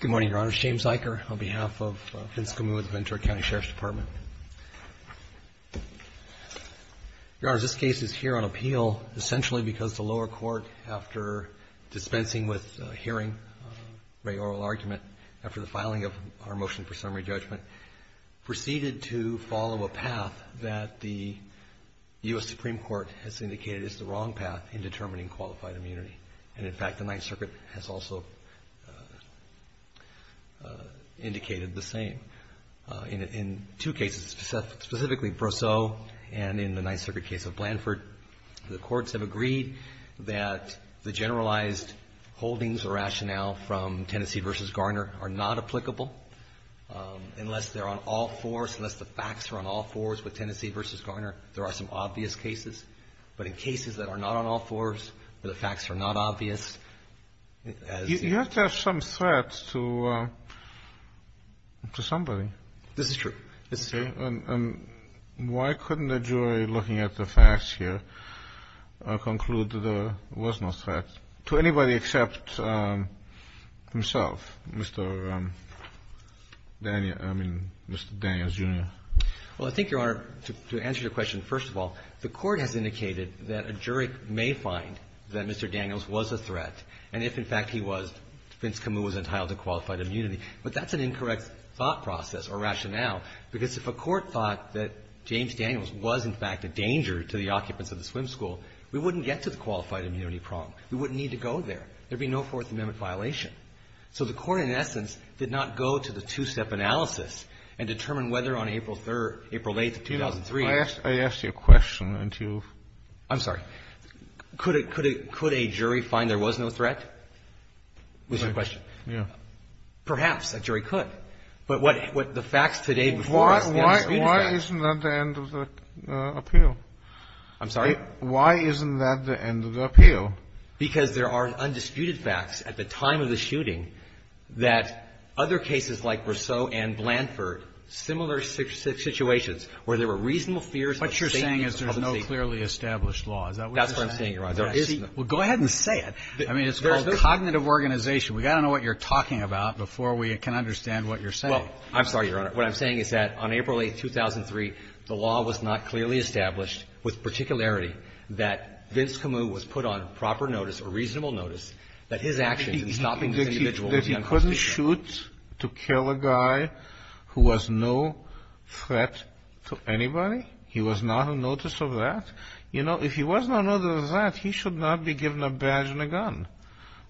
COUNTY SHERIFF'S DEPARTMENT, VENTURA COUNTY SHERIFF'S DEPARTMENT, VENTURA COUNTY SHERIFF'S DEPARTMENT. And in fact, the Ninth Circuit has also indicated the same. In two cases, specifically Brosseau and in the Ninth Circuit case of Blanford, the courts have agreed that the Supreme Court has indicated that the generalized holdings or rationale from Tennessee v. Garner are not applicable unless they're on all fours, unless the facts are on all fours with Tennessee v. Garner. There are some obvious cases. But in cases that are not on all fours, the facts are not obvious. You have to have some threat to somebody. This is true. And why couldn't a jury looking at the facts here conclude there was no threat to anybody except himself, Mr. Daniels Jr.? Well, I think, Your Honor, to answer your question, first of all, the Court has indicated that a jury may find that Mr. Daniels was a threat. And if, in fact, he was, Vince Camus was entitled to qualified immunity. But that's an incorrect thought process or rationale, because if a court thought that James Daniels was, in fact, a danger to the occupants of the swim school, we wouldn't get to the qualified immunity problem. We wouldn't need to go there. There would be no Fourth Amendment violation. So the Court, in essence, did not go to the two-step analysis and determine whether on April 3rd or April 8th of 2003. I asked you a question. I'm sorry. Could a jury find there was no threat was your question? Yes. Perhaps a jury could. But what the facts today before us are undisputed facts. Why isn't that the end of the appeal? I'm sorry? Why isn't that the end of the appeal? Because there are undisputed facts at the time of the shooting that other cases like Brosseau and Blanford, similar situations, where there were reasonable fears of safety and public safety. What you're saying is there's no clearly established law. Is that what you're saying? That's what I'm saying, Your Honor. Well, go ahead and say it. I mean, it's called cognitive organization. We've got to know what you're talking about before we can understand what you're saying. Well, I'm sorry, Your Honor. What I'm saying is that on April 8th, 2003, the law was not clearly established with particularity that Vince Camus was put on proper notice or reasonable notice that his actions in stopping this individual was unconstitutional. He couldn't shoot to kill a guy who was no threat to anybody? He was not on notice of that? You know, if he was not on notice of that, he should not be given a badge and a gun.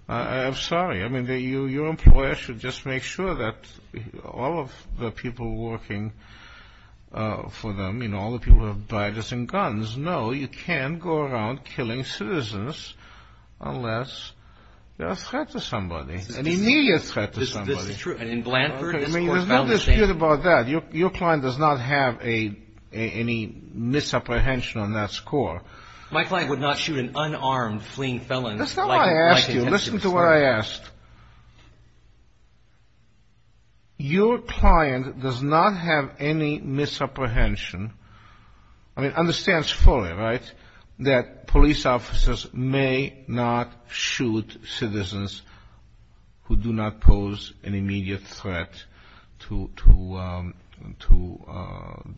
I'm sorry. I mean, your employer should just make sure that all of the people working for them, you know, all the people who have badges and guns, know you can't go around killing citizens unless they're a threat to somebody, an immediate threat to somebody. This is true. And in Blanford, this court found the same. There's no dispute about that. Your client does not have any misapprehension on that score. My client would not shoot an unarmed fleeing felon. That's not what I asked you. Listen to what I asked. Your client does not have any misapprehension. I mean, understands fully, right, that police officers may not shoot citizens who do not pose an immediate threat to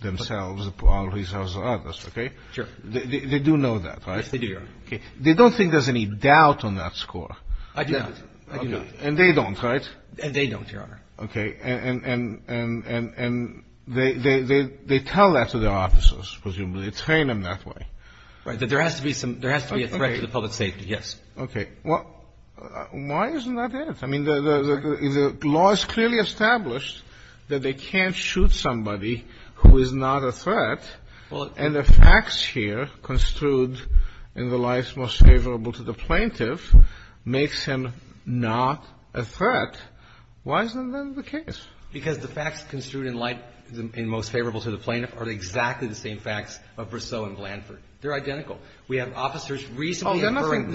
themselves or others, okay? Sure. They do know that, right? Yes, they do, Your Honor. Okay. They don't think there's any doubt on that score. I do not. I do not. And they don't, right? And they don't, Your Honor. Okay. And they tell that to their officers, presumably. They train them that way. Right. That there has to be some – there has to be a threat to the public safety, yes. Okay. Well, why isn't that it? I mean, the law is clearly established that they can't shoot somebody who is not a threat. Well – And the facts here construed in the life most favorable to the plaintiff makes him not a threat. Why isn't that the case? Because the facts construed in life most favorable to the plaintiff are exactly the same facts of Brousseau and Blanford. They're identical. We have officers recently – Oh, they're nothing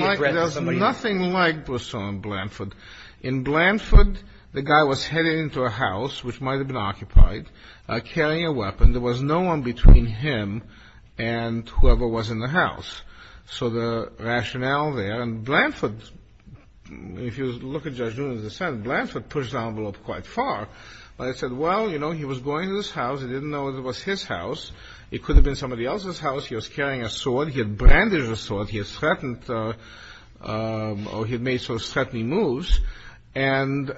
like – There's nothing like Brousseau and Blanford. In Blanford, the guy was headed into a house, which might have been occupied, carrying a weapon. There was no one between him and whoever was in the house. So the rationale there – and Blanford, if you look at Judge Nunes' assent, Blanford pushed the envelope quite far. He said, well, you know, he was going to this house. He didn't know it was his house. It could have been somebody else's house. He was carrying a sword. He had brandished a sword. He had threatened – or he had made sort of threatening moves. And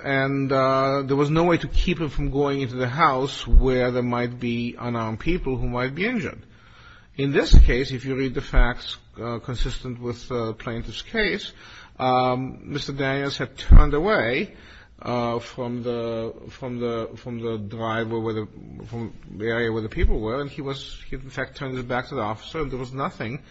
there was no way to keep him from going into the house where there might be unarmed people who might be injured. In this case, if you read the facts consistent with the plaintiff's case, Mr. Daniels had turned away from the – from the driver where the – from the area where the people were, and he was – he, in fact, turned his back to the officer. There was nothing.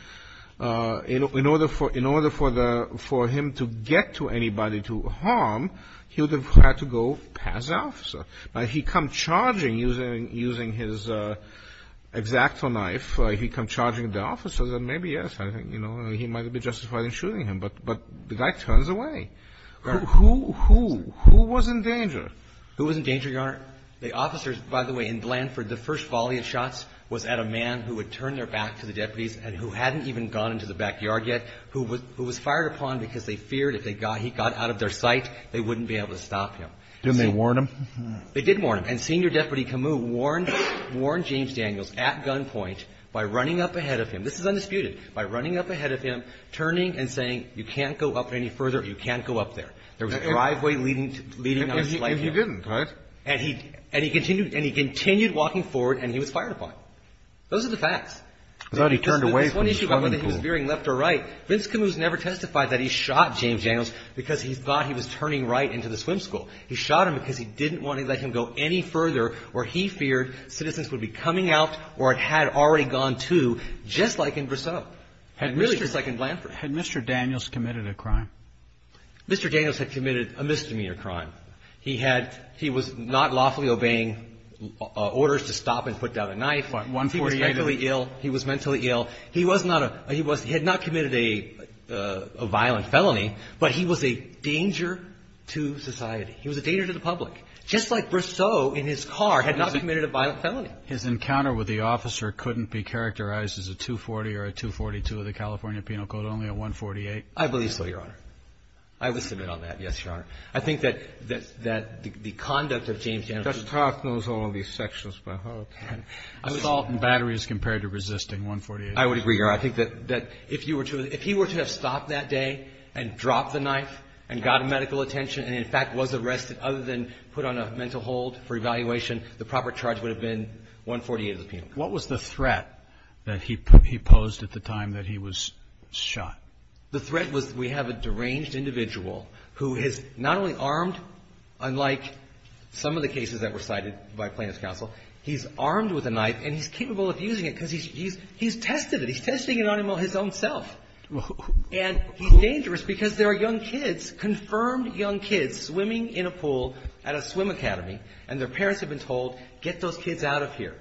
In order for – in order for the – for him to get to anybody to harm, he would have had to go past the officer. Now, he come charging using his X-Acto knife. He come charging at the officer. Then maybe, yes, I think, you know, he might have been justified in shooting him. But the guy turns away. Who was in danger? Who was in danger, Your Honor? The officers, by the way, in Blanford, the first volley of shots was at a man who had turned their back to the deputies and who hadn't even gone into the backyard yet, who was – who was fired upon because they feared if they got – he got out of their sight, they wouldn't be able to stop him. Didn't they warn him? They did warn him. And Senior Deputy Camus warned – warned James Daniels at gunpoint by running up ahead of him – this is undisputed – by running up ahead of him, turning and saying, you can't go up any further, you can't go up there. There was a driveway leading to – leading up slightly. And he didn't, right? And he – and he continued – and he continued walking forward and he was fired upon. Those are the facts. I thought he turned away from the swimming pool. This one issue about whether he was veering left or right, Vince Camus never testified that he shot James Daniels because he thought he was turning right into the swim school. He shot him because he didn't want to let him go any further or he feared citizens would be coming out or had already gone to, just like in Brissot. Had Mr. – Really, just like in Blanford. Had Mr. Daniels committed a crime? Mr. Daniels had committed a misdemeanor crime. He had – he was not lawfully obeying orders to stop and put down a knife. 148. He was mentally ill. He was mentally ill. He was not a – he was – he had not committed a violent felony, but he was a danger to society. He was a danger to the public. Just like Brissot in his car had not committed a violent felony. His encounter with the officer couldn't be characterized as a 240 or a 242 of the California Penal Code, only a 148? I would submit on that, yes, Your Honor. I think that – that the conduct of James Daniels – Judge Clark knows all of these sections by heart. Assault and battery is compared to resisting, 148. I would agree, Your Honor. I think that if you were to – if he were to have stopped that day and dropped the knife and got medical attention and, in fact, was arrested other than put on a mental hold for evaluation, the proper charge would have been 148 of the Penal Code. What was the threat that he posed at the time that he was shot? The threat was we have a deranged individual who is not only armed, unlike some of the cases that were cited by plaintiff's counsel, he's armed with a knife, and he's capable of using it because he's – he's tested it. He's testing it on his own self. And he's dangerous because there are young kids, confirmed young kids, swimming in a pool at a swim academy, and their parents have been told, get those kids out of here.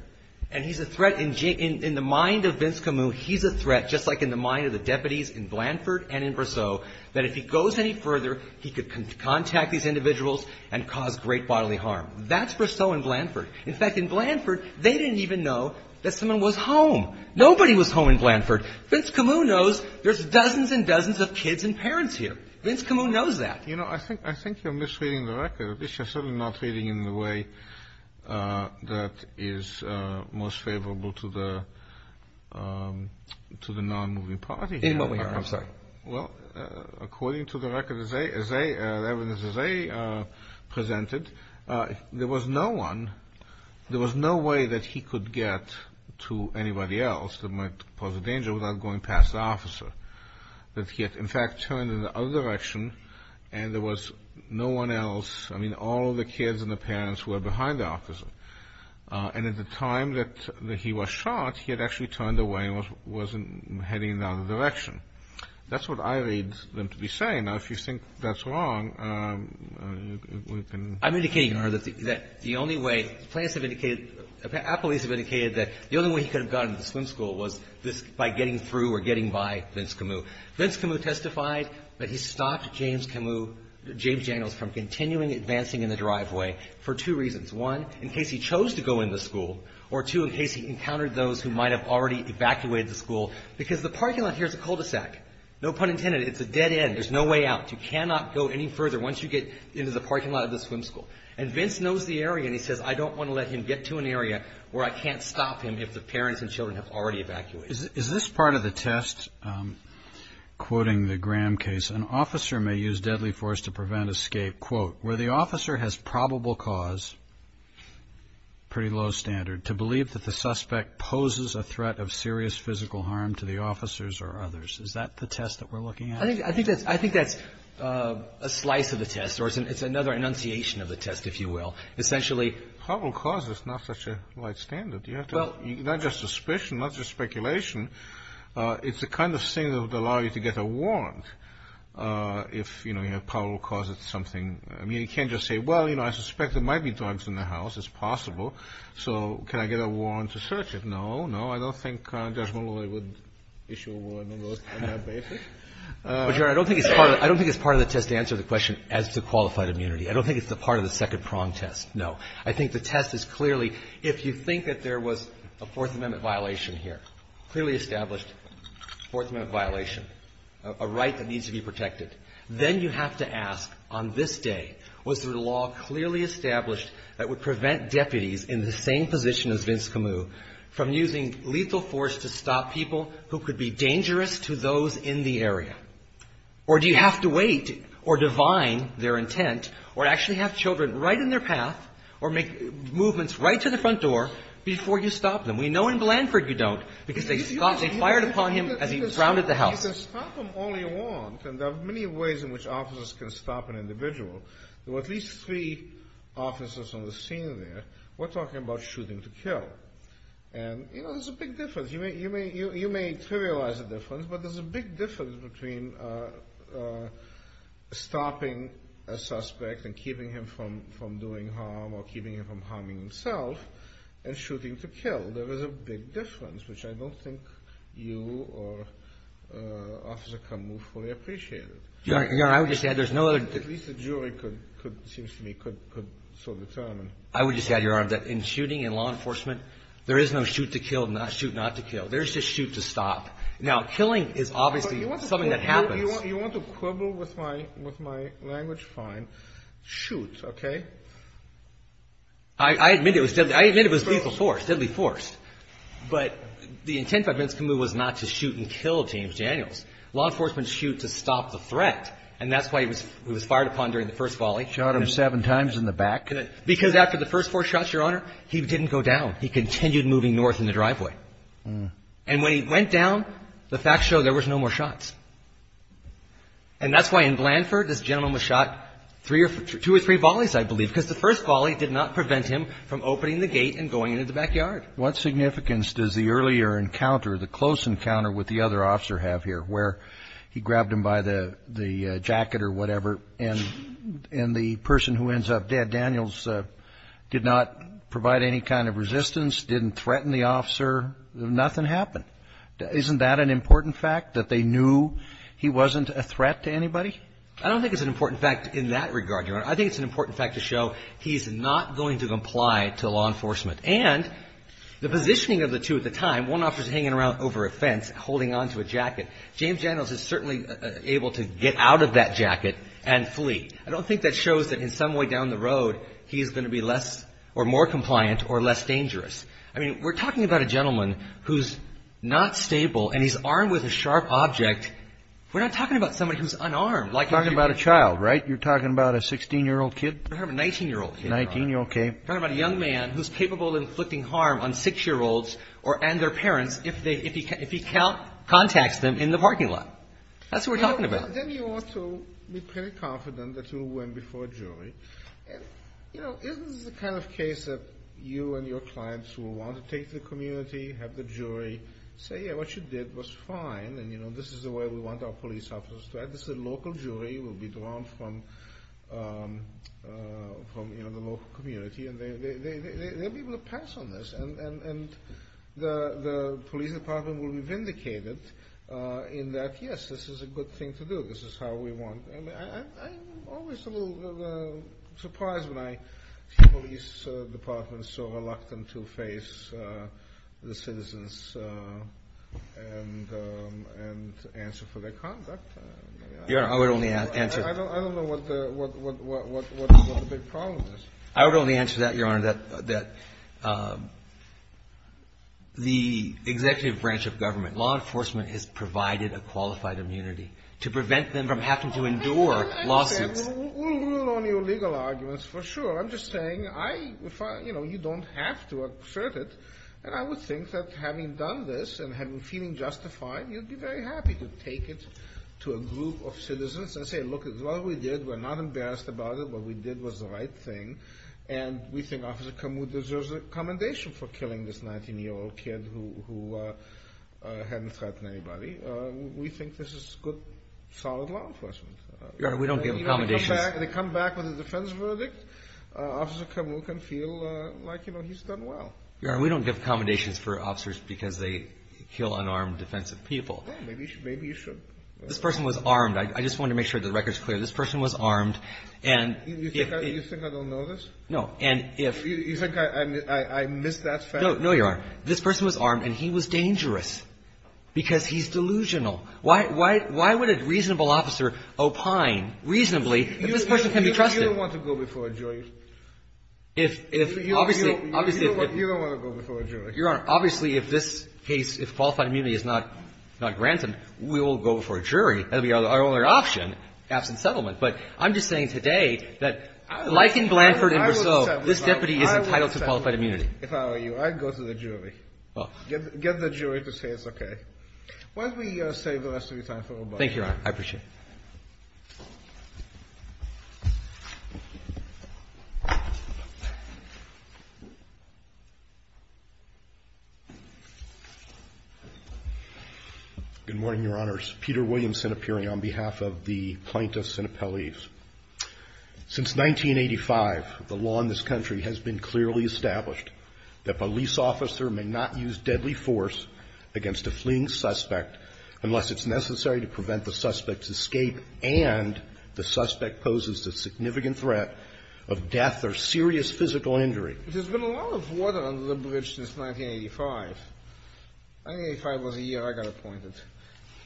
And he's a threat. In the mind of Vince Camus, he's a threat, just like in the mind of the deputies in Blanford and in Briseau, that if he goes any further, he could contact these individuals and cause great bodily harm. That's Briseau and Blanford. In fact, in Blanford, they didn't even know that someone was home. Nobody was home in Blanford. Vince Camus knows there's dozens and dozens of kids and parents here. Vince Camus knows that. You know, I think you're misreading the record. At least you're certainly not reading it in the way that is most favorable to the non-moving party. In what way? I'm sorry. Well, according to the record as they presented, there was no one – there was no way that he could get to anybody else that might pose a danger without going past the officer. That he had, in fact, turned in the other direction, and there was no one else – I mean, all of the kids and the parents were behind the officer. And at the time that he was shot, he had actually turned away and wasn't heading in the other direction. That's what I read them to be saying. Now, if you think that's wrong, we can – I'm indicating, Your Honor, that the only way – the plaintiffs have indicated – our police have indicated that the only way he could have gotten to the swim school was by getting through or getting by Vince Camus. Vince Camus testified that he stopped James Camus – James Daniels from continuing advancing in the driveway for two reasons. One, in case he chose to go in the school. Or two, in case he encountered those who might have already evacuated the school. Because the parking lot here is a cul-de-sac. No pun intended. It's a dead end. There's no way out. You cannot go any further once you get into the parking lot of the swim school. And Vince knows the area, and he says, I don't want to let him get to an area where I can't stop him if the parents and children have already evacuated. Is this part of the test, quoting the Graham case, an officer may use deadly force to prevent escape, quote, where the officer has probable cause, pretty low standard, to believe that the suspect poses a threat of serious physical harm to the officers or others. Is that the test that we're looking at? I think that's a slice of the test, or it's another enunciation of the test, if you will. Essentially – Probable cause is not such a wide standard. Not just suspicion, not just speculation. It's the kind of thing that would allow you to get a warrant if, you know, you have probable cause. It's something – I mean, you can't just say, well, you know, I suspect there might be drugs in the house. It's possible. So can I get a warrant to search it? No, no, I don't think Judge Malloy would issue a warrant on that basis. I don't think it's part of the test to answer the question as to qualified immunity. I don't think it's part of the second prong test, no. I think the test is clearly, if you think that there was a Fourth Amendment violation here, clearly established Fourth Amendment violation, a right that needs to be protected, then you have to ask, on this day, was there a law clearly established that would prevent deputies in the same position as Vince Camus from using lethal force to stop people who could be dangerous to those in the area? Or do you have to wait or divine their intent or actually have children right in their path or make movements right to the front door before you stop them? We know in Blanford you don't because they fired upon him as he grounded the house. You can stop them all you want, and there are many ways in which officers can stop an individual. There were at least three officers on the scene there. We're talking about shooting to kill. And, you know, there's a big difference. You may trivialize the difference, but there's a big difference between stopping a suspect and keeping him from doing harm or keeping him from harming himself and shooting to kill. There is a big difference, which I don't think you or Officer Camus fully appreciated. Your Honor, I would just add there's no other. At least the jury could, it seems to me, could so determine. I would just add, Your Honor, that in shooting, in law enforcement, there is no shoot to kill, shoot not to kill. There's just shoot to stop. Now, killing is obviously something that happens. You want to quibble with my language? Fine. Shoot, okay? I admit it was lethal force, deadly force. But the intent by Vince Camus was not to shoot and kill James Daniels. Law enforcement shoots to stop the threat, and that's why he was fired upon during the first volley. Shot him seven times in the back. Because after the first four shots, Your Honor, he didn't go down. He continued moving north in the driveway. And when he went down, the facts show there was no more shots. And that's why in Blandford, this gentleman was shot two or three volleys, I believe, because the first volley did not prevent him from opening the gate and going into the backyard. What significance does the earlier encounter, the close encounter with the other officer have here, where he grabbed him by the jacket or whatever, and the person who ends up dead, did not provide any kind of resistance, didn't threaten the officer, nothing happened? Isn't that an important fact, that they knew he wasn't a threat to anybody? I don't think it's an important fact in that regard, Your Honor. I think it's an important fact to show he's not going to comply to law enforcement. And the positioning of the two at the time, one officer is hanging around over a fence holding onto a jacket. James Daniels is certainly able to get out of that jacket and flee. I don't think that shows that in some way down the road, he's going to be less or more compliant or less dangerous. I mean, we're talking about a gentleman who's not stable and he's armed with a sharp object. We're not talking about somebody who's unarmed. You're talking about a child, right? You're talking about a 16-year-old kid? We're talking about a 19-year-old kid. 19, okay. We're talking about a young man who's capable of inflicting harm on 6-year-olds and their parents if he contacts them in the parking lot. That's who we're talking about. Then you ought to be pretty confident that you'll win before a jury. And, you know, isn't this the kind of case that you and your clients will want to take to the community, have the jury say, yeah, what you did was fine and, you know, this is the way we want our police officers to act? This is a local jury. We'll be drawn from, you know, the local community. And they'll be able to pass on this. And the police department will be vindicated in that, yes, this is a good thing to do. This is how we want. I'm always a little surprised when I see police departments so reluctant to face the citizens and answer for their conduct. Your Honor, I would only answer. I don't know what the big problem is. I would only answer that, Your Honor, that the executive branch of government, law enforcement, has provided a qualified immunity to prevent them from having to endure lawsuits. We'll rule on your legal arguments for sure. I'm just saying, you know, you don't have to assert it. And I would think that having done this and feeling justified, you'd be very happy to take it to a group of citizens and say, look, what we did, we're not embarrassed about it. What we did was the right thing. And we think Officer Camus deserves an accommodation for killing this 19-year-old kid who hadn't threatened anybody. We think this is good, solid law enforcement. Your Honor, we don't give accommodations. Even if they come back with a defense verdict, Officer Camus can feel like, you know, he's done well. Your Honor, we don't give accommodations for officers because they kill unarmed defensive people. Maybe you should. This person was armed. I just wanted to make sure the record's clear. This person was armed. And if he — You think I don't know this? No. And if — You think I missed that fact? No, Your Honor. This person was armed, and he was dangerous because he's delusional. Why would a reasonable officer opine reasonably that this person can be trusted? You don't want to go before a jury. If — obviously — You don't want to go before a jury. Your Honor, obviously, if this case, if qualified immunity is not granted, we will go before a jury. That would be our only option, absent settlement. But I'm just saying today that, like in Blanford and Brousseau, this deputy is entitled to qualified immunity. If I were you, I'd go to the jury. Get the jury to say it's okay. Why don't we save the rest of your time for rebuttal? Thank you, Your Honor. I appreciate it. Good morning, Your Honors. Peter Williams, Senate Peering, on behalf of the plaintiffs and appellees. Since 1985, the law in this country has been clearly established that police officer may not use deadly force against a fleeing suspect unless it's necessary to prevent the suspect's escape and the suspect poses a significant threat of death or serious physical injury. There's been a lot of water under the bridge since 1985. 1985 was a year I got appointed to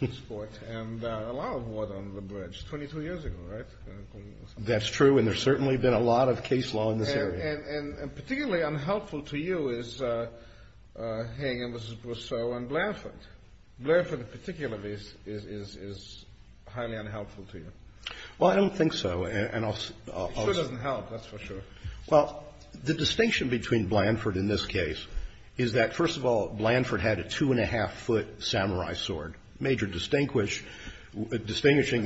this Court, and a lot of water under the bridge. Twenty-two years ago, right? That's true, and there's certainly been a lot of case law in this area. And particularly unhelpful to you is Hagan v. Brousseau and Blanford. Blanford in particular is highly unhelpful to you. Well, I don't think so. It sure doesn't help, that's for sure. Well, the distinction between Blanford in this case is that, first of all, Blanford had a two-and-a-half-foot samurai sword, a major distinguishing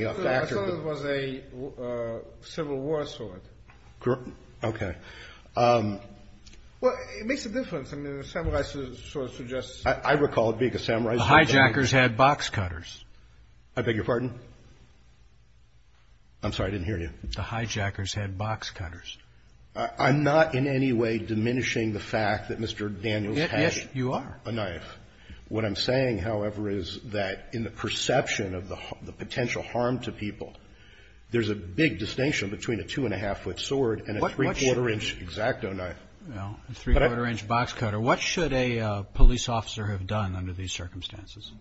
factor. I thought it was a Civil War sword. Okay. Well, it makes a difference. I mean, a samurai sword suggests... I recall it being a samurai sword. The hijackers had box cutters. I beg your pardon? I'm sorry, I didn't hear you. The hijackers had box cutters. I'm not in any way diminishing the fact that Mr. Daniels had a knife. Yes, you are. What I'm saying, however, is that in the perception of the potential harm to people, there's a big distinction between a two-and-a-half-foot sword and a three-quarter-inch X-Acto knife. Well, a three-quarter-inch box cutter. What should a police officer have done under these circumstances?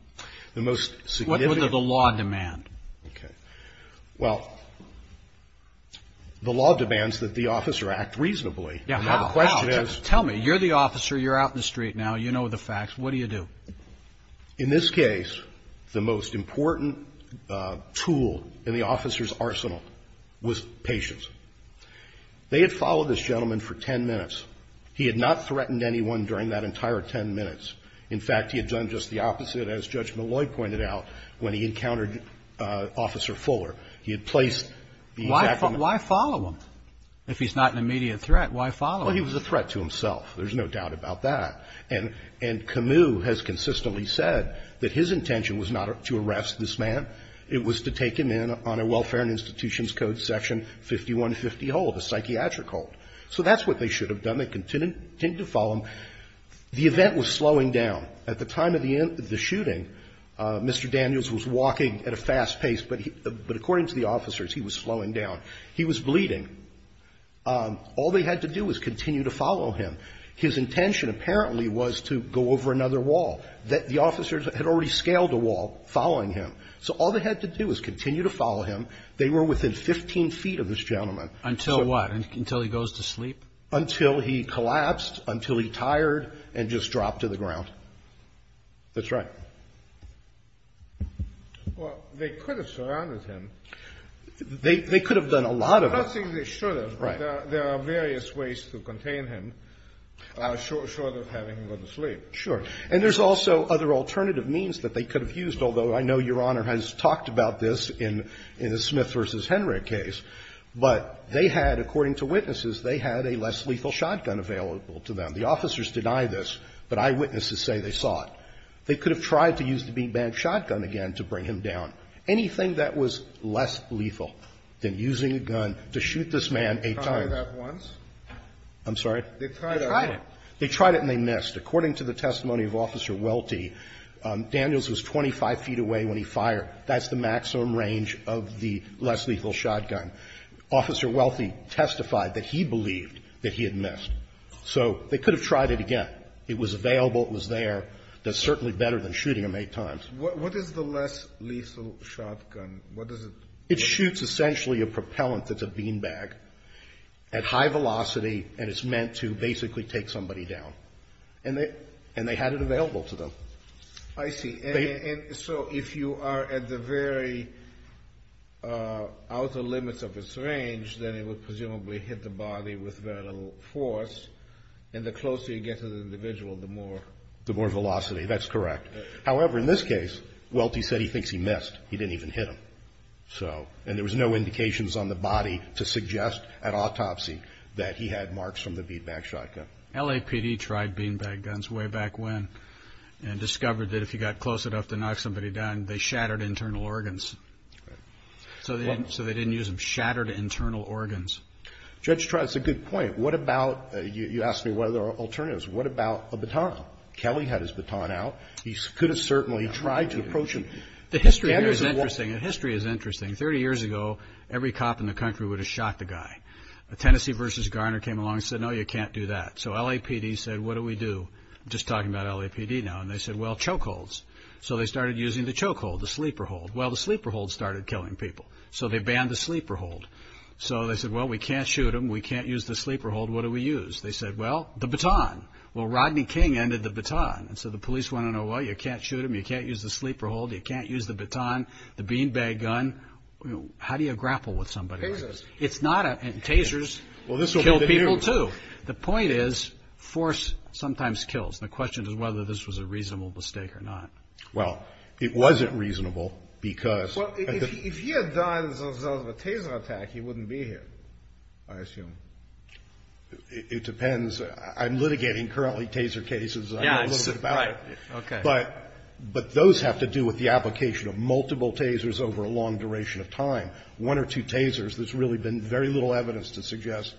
The most significant... What would the law demand? Okay. Well, the law demands that the officer act reasonably. Yeah, how? Now, the question is... Tell me. You're the officer. You're out in the street now. You know the facts. What do you do? In this case, the most important tool in the officer's arsenal was patience. They had followed this gentleman for ten minutes. He had not threatened anyone during that entire ten minutes. In fact, he had done just the opposite, as Judge Malloy pointed out, when he encountered Officer Fuller. He had placed the X-Acto knife... Why follow him if he's not an immediate threat? Why follow him? Well, he was a threat to himself. There's no doubt about that. And Camus has consistently said that his intention was not to arrest this man. It was to take him in on a Welfare and Institutions Code section 5150 hold, a psychiatric hold. So that's what they should have done. They continued to follow him. The event was slowing down. At the time of the shooting, Mr. Daniels was walking at a fast pace, but according to the officers, he was slowing down. He was bleeding. All they had to do was continue to follow him. His intention apparently was to go over another wall. The officers had already scaled a wall following him. So all they had to do was continue to follow him. They were within 15 feet of this gentleman. Until what? Until he goes to sleep? Until he collapsed, until he tired, and just dropped to the ground. That's right. Well, they could have surrounded him. They could have done a lot of it. I don't think they should have. Right. There are various ways to contain him short of having him go to sleep. Sure. And there's also other alternative means that they could have used, although I know Your Honor has talked about this in the Smith v. Henry case. But they had, according to witnesses, they had a less lethal shotgun available to them. The officers deny this, but eyewitnesses say they saw it. They could have tried to use the bean bag shotgun again to bring him down. Anything that was less lethal than using a gun to shoot this man eight times. They tried that once. I'm sorry? They tried it. They tried it. They tried it and they missed. According to the testimony of Officer Welty, Daniels was 25 feet away when he fired. That's the maximum range of the less lethal shotgun. Officer Welty testified that he believed that he had missed. So they could have tried it again. It was available. It was there. That's certainly better than shooting him eight times. What is the less lethal shotgun? What does it do? It shoots essentially a propellant that's a bean bag at high velocity, and it's meant to basically take somebody down. And they had it available to them. I see. And so if you are at the very outer limits of its range, then it would presumably hit the body with very little force, and the closer you get to the individual, the more. The more velocity. That's correct. However, in this case, Welty said he thinks he missed. He didn't even hit him. So, and there was no indications on the body to suggest at autopsy that he had marks from the bean bag shotgun. LAPD tried bean bag guns way back when and discovered that if you got close enough to knock somebody down, they shattered internal organs. So they didn't use them. Shattered internal organs. Judge Trott, it's a good point. What about, you asked me what are the alternatives. What about a baton? Kelly had his baton out. He could have certainly tried to approach him. The history here is interesting. The history is interesting. Thirty years ago, every cop in the country would have shot the guy. Tennessee versus Garner came along and said, no, you can't do that. So LAPD said, what do we do? Just talking about LAPD now. And they said, well, choke holds. So they started using the choke hold, the sleeper hold. Well, the sleeper hold started killing people. So they banned the sleeper hold. So they said, well, we can't shoot him. We can't use the sleeper hold. What do we use? They said, well, the baton. Well, Rodney King ended the baton. And so the police want to know, well, you can't shoot him. You can't use the sleeper hold. You can't use the baton, the bean bag gun. How do you grapple with somebody like this? It's not a – tasers kill people, too. The point is force sometimes kills. The question is whether this was a reasonable mistake or not. Well, it wasn't reasonable because – Well, if he had died as a result of a taser attack, he wouldn't be here, I assume. It depends. I'm litigating currently taser cases. I know a little bit about it. Yeah, right. Okay. But those have to do with the application of multiple tasers over a long duration of time. One or two tasers, there's really been very little evidence to suggest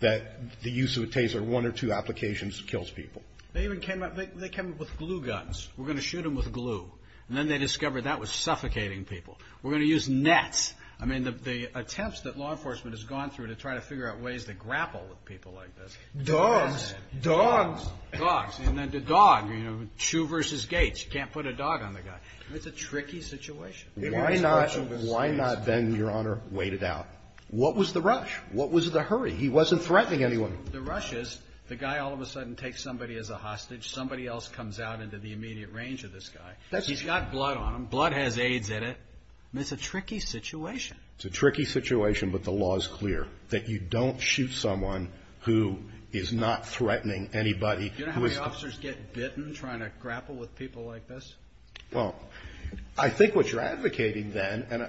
that the use of a taser, one or two applications, kills people. They even came up – they came up with glue guns. We're going to shoot him with glue. And then they discovered that was suffocating people. We're going to use nets. I mean, the attempts that law enforcement has gone through to try to figure out ways to grapple with people like this. Dogs. Dogs. Dogs. And then the dog, you know, shoe versus gait. You can't put a dog on the guy. It's a tricky situation. Why not, Ben, Your Honor, wait it out? What was the rush? What was the hurry? He wasn't threatening anyone. The rush is the guy all of a sudden takes somebody as a hostage. Somebody else comes out into the immediate range of this guy. He's got blood on him. Blood has AIDS in it. It's a tricky situation. It's a tricky situation, but the law is clear that you don't shoot someone who is not threatening anybody. Do you know how many officers get bitten trying to grapple with people like this? Well, I think what you're advocating then, and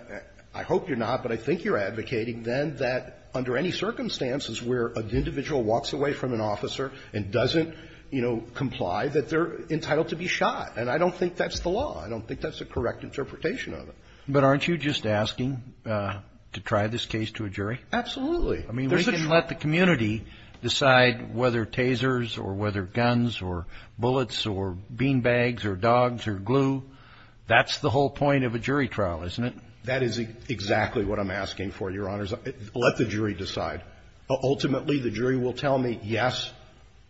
I hope you're not, but I think you're advocating then that under any circumstances where an individual walks away from an officer and doesn't, you know, comply, that they're entitled to be shot. And I don't think that's the law. I don't think that's the correct interpretation of it. But aren't you just asking to try this case to a jury? Absolutely. I mean, we can let the community decide whether tasers or whether guns or bullets or beanbags or dogs or glue, that's the whole point of a jury trial, isn't it? That is exactly what I'm asking for, Your Honors. Let the jury decide. Ultimately, the jury will tell me, yes,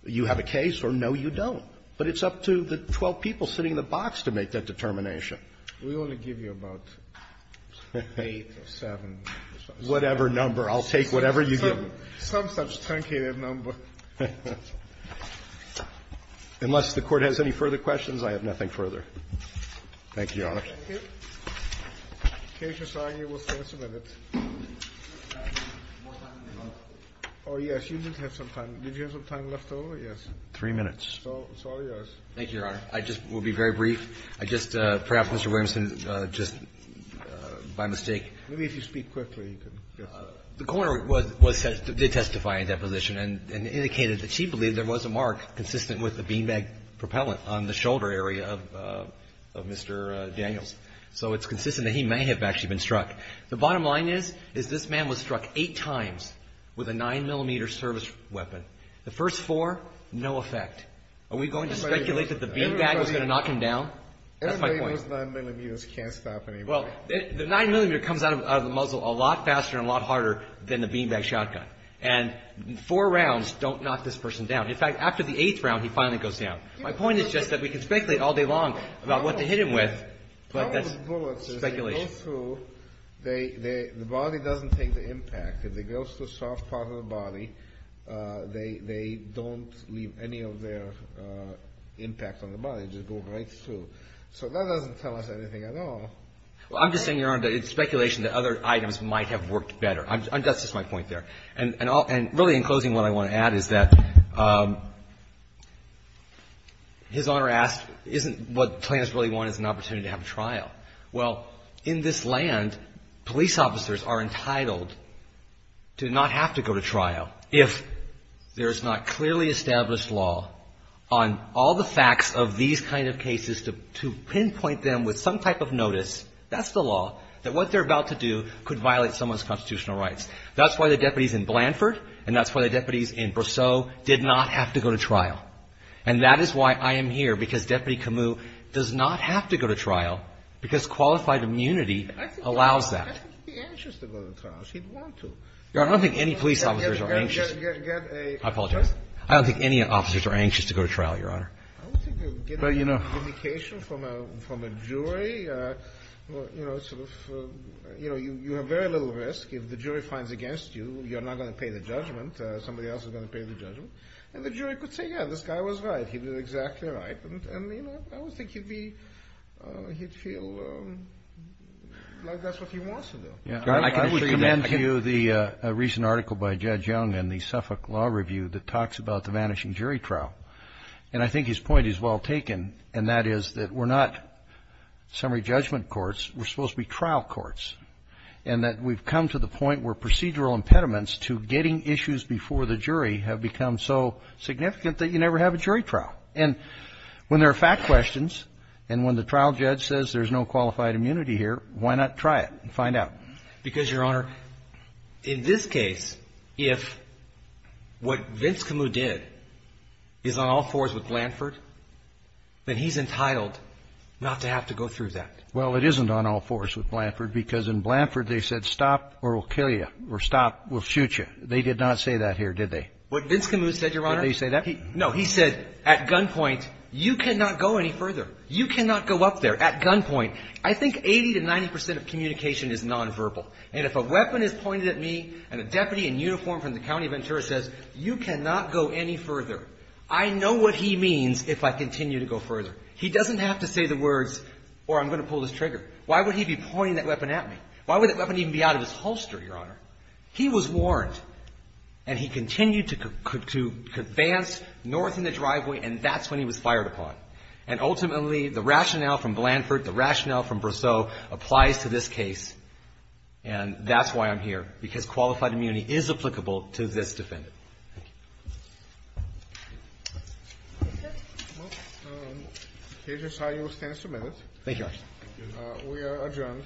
you have a case, or no, you don't. But it's up to the 12 people sitting in the box to make that determination. We only give you about eight or seven. Whatever number. I'll take whatever you give me. Some such truncated number. Unless the Court has any further questions, I have nothing further. Thank you, Your Honors. Thank you. The case is signed. We'll finish in a minute. Oh, yes. You did have some time. Did you have some time left over? Yes. Three minutes. So it's all yours. Thank you, Your Honor. I just will be very brief. I just perhaps, Mr. Williamson, just by mistake. Maybe if you speak quickly. The coroner did testify in that position and indicated that she believed there was a mark consistent with the beanbag propellant on the shoulder area of Mr. Daniels. So it's consistent that he may have actually been struck. The bottom line is, is this man was struck eight times with a 9-millimeter service weapon. The first four, no effect. Are we going to speculate that the beanbag was going to knock him down? Everybody with 9 millimeters can't stop anymore. Well, the 9-millimeter comes out of the muzzle a lot faster and a lot harder than the beanbag shotgun. And four rounds don't knock this person down. In fact, after the eighth round, he finally goes down. My point is just that we can speculate all day long about what they hit him with, but that's speculation. The problem with bullets is they go through. The body doesn't take the impact. If they go through a soft part of the body, they don't leave any of their impact on the body. They just go right through. So that doesn't tell us anything at all. Well, I'm just saying, Your Honor, that it's speculation that other items might have worked better. That's just my point there. And really, in closing, what I want to add is that His Honor asked, isn't what the plaintiffs really want is an opportunity to have a trial? Well, in this land, police officers are entitled to not have to go to trial if there is not to pinpoint them with some type of notice. That's the law. That what they're about to do could violate someone's constitutional rights. That's why the deputies in Blanford and that's why the deputies in Brosseau did not have to go to trial. And that is why I am here, because Deputy Camus does not have to go to trial, because qualified immunity allows that. I think he'd be anxious to go to trial. He'd want to. Your Honor, I don't think any police officers are anxious. I apologize. I don't think any officers are anxious to go to trial, Your Honor. I don't think you'll get any indication from a jury. You know, you have very little risk. If the jury finds against you, you're not going to pay the judgment. Somebody else is going to pay the judgment. And the jury could say, yeah, this guy was right. He did exactly right. And, you know, I would think he'd feel like that's what he wants to do. I would commend to you the recent article by Judge Young in the Suffolk Law Review that talks about the vanishing jury trial. And I think his point is well taken, and that is that we're not summary judgment courts. We're supposed to be trial courts, and that we've come to the point where procedural impediments to getting issues before the jury have become so significant that you never have a jury trial. And when there are fact questions and when the trial judge says there's no qualified immunity here, why not try it and find out? Because, Your Honor, in this case, if what Vince Camus did is on all fours with Blanford, then he's entitled not to have to go through that. Well, it isn't on all fours with Blanford, because in Blanford they said stop or we'll kill you, or stop, we'll shoot you. They did not say that here, did they? What Vince Camus said, Your Honor. Did they say that? No, he said at gunpoint, you cannot go any further. You cannot go up there. At gunpoint, I think 80 to 90 percent of communication is nonverbal. And if a weapon is pointed at me and a deputy in uniform from the County of Ventura says, you cannot go any further, I know what he means if I continue to go further. He doesn't have to say the words, or I'm going to pull this trigger. Why would he be pointing that weapon at me? Why would that weapon even be out of his holster, Your Honor? He was warned, and he continued to advance north in the driveway, and that's when he was fired upon. And ultimately, the rationale from Blanford, the rationale from Brosseau applies to this case, and that's why I'm here, because qualified immunity is applicable to this defendant. Thank you. Thank you, sir. Well, here's just how you will stand for a minute. Thank you, Your Honor. We are adjourned.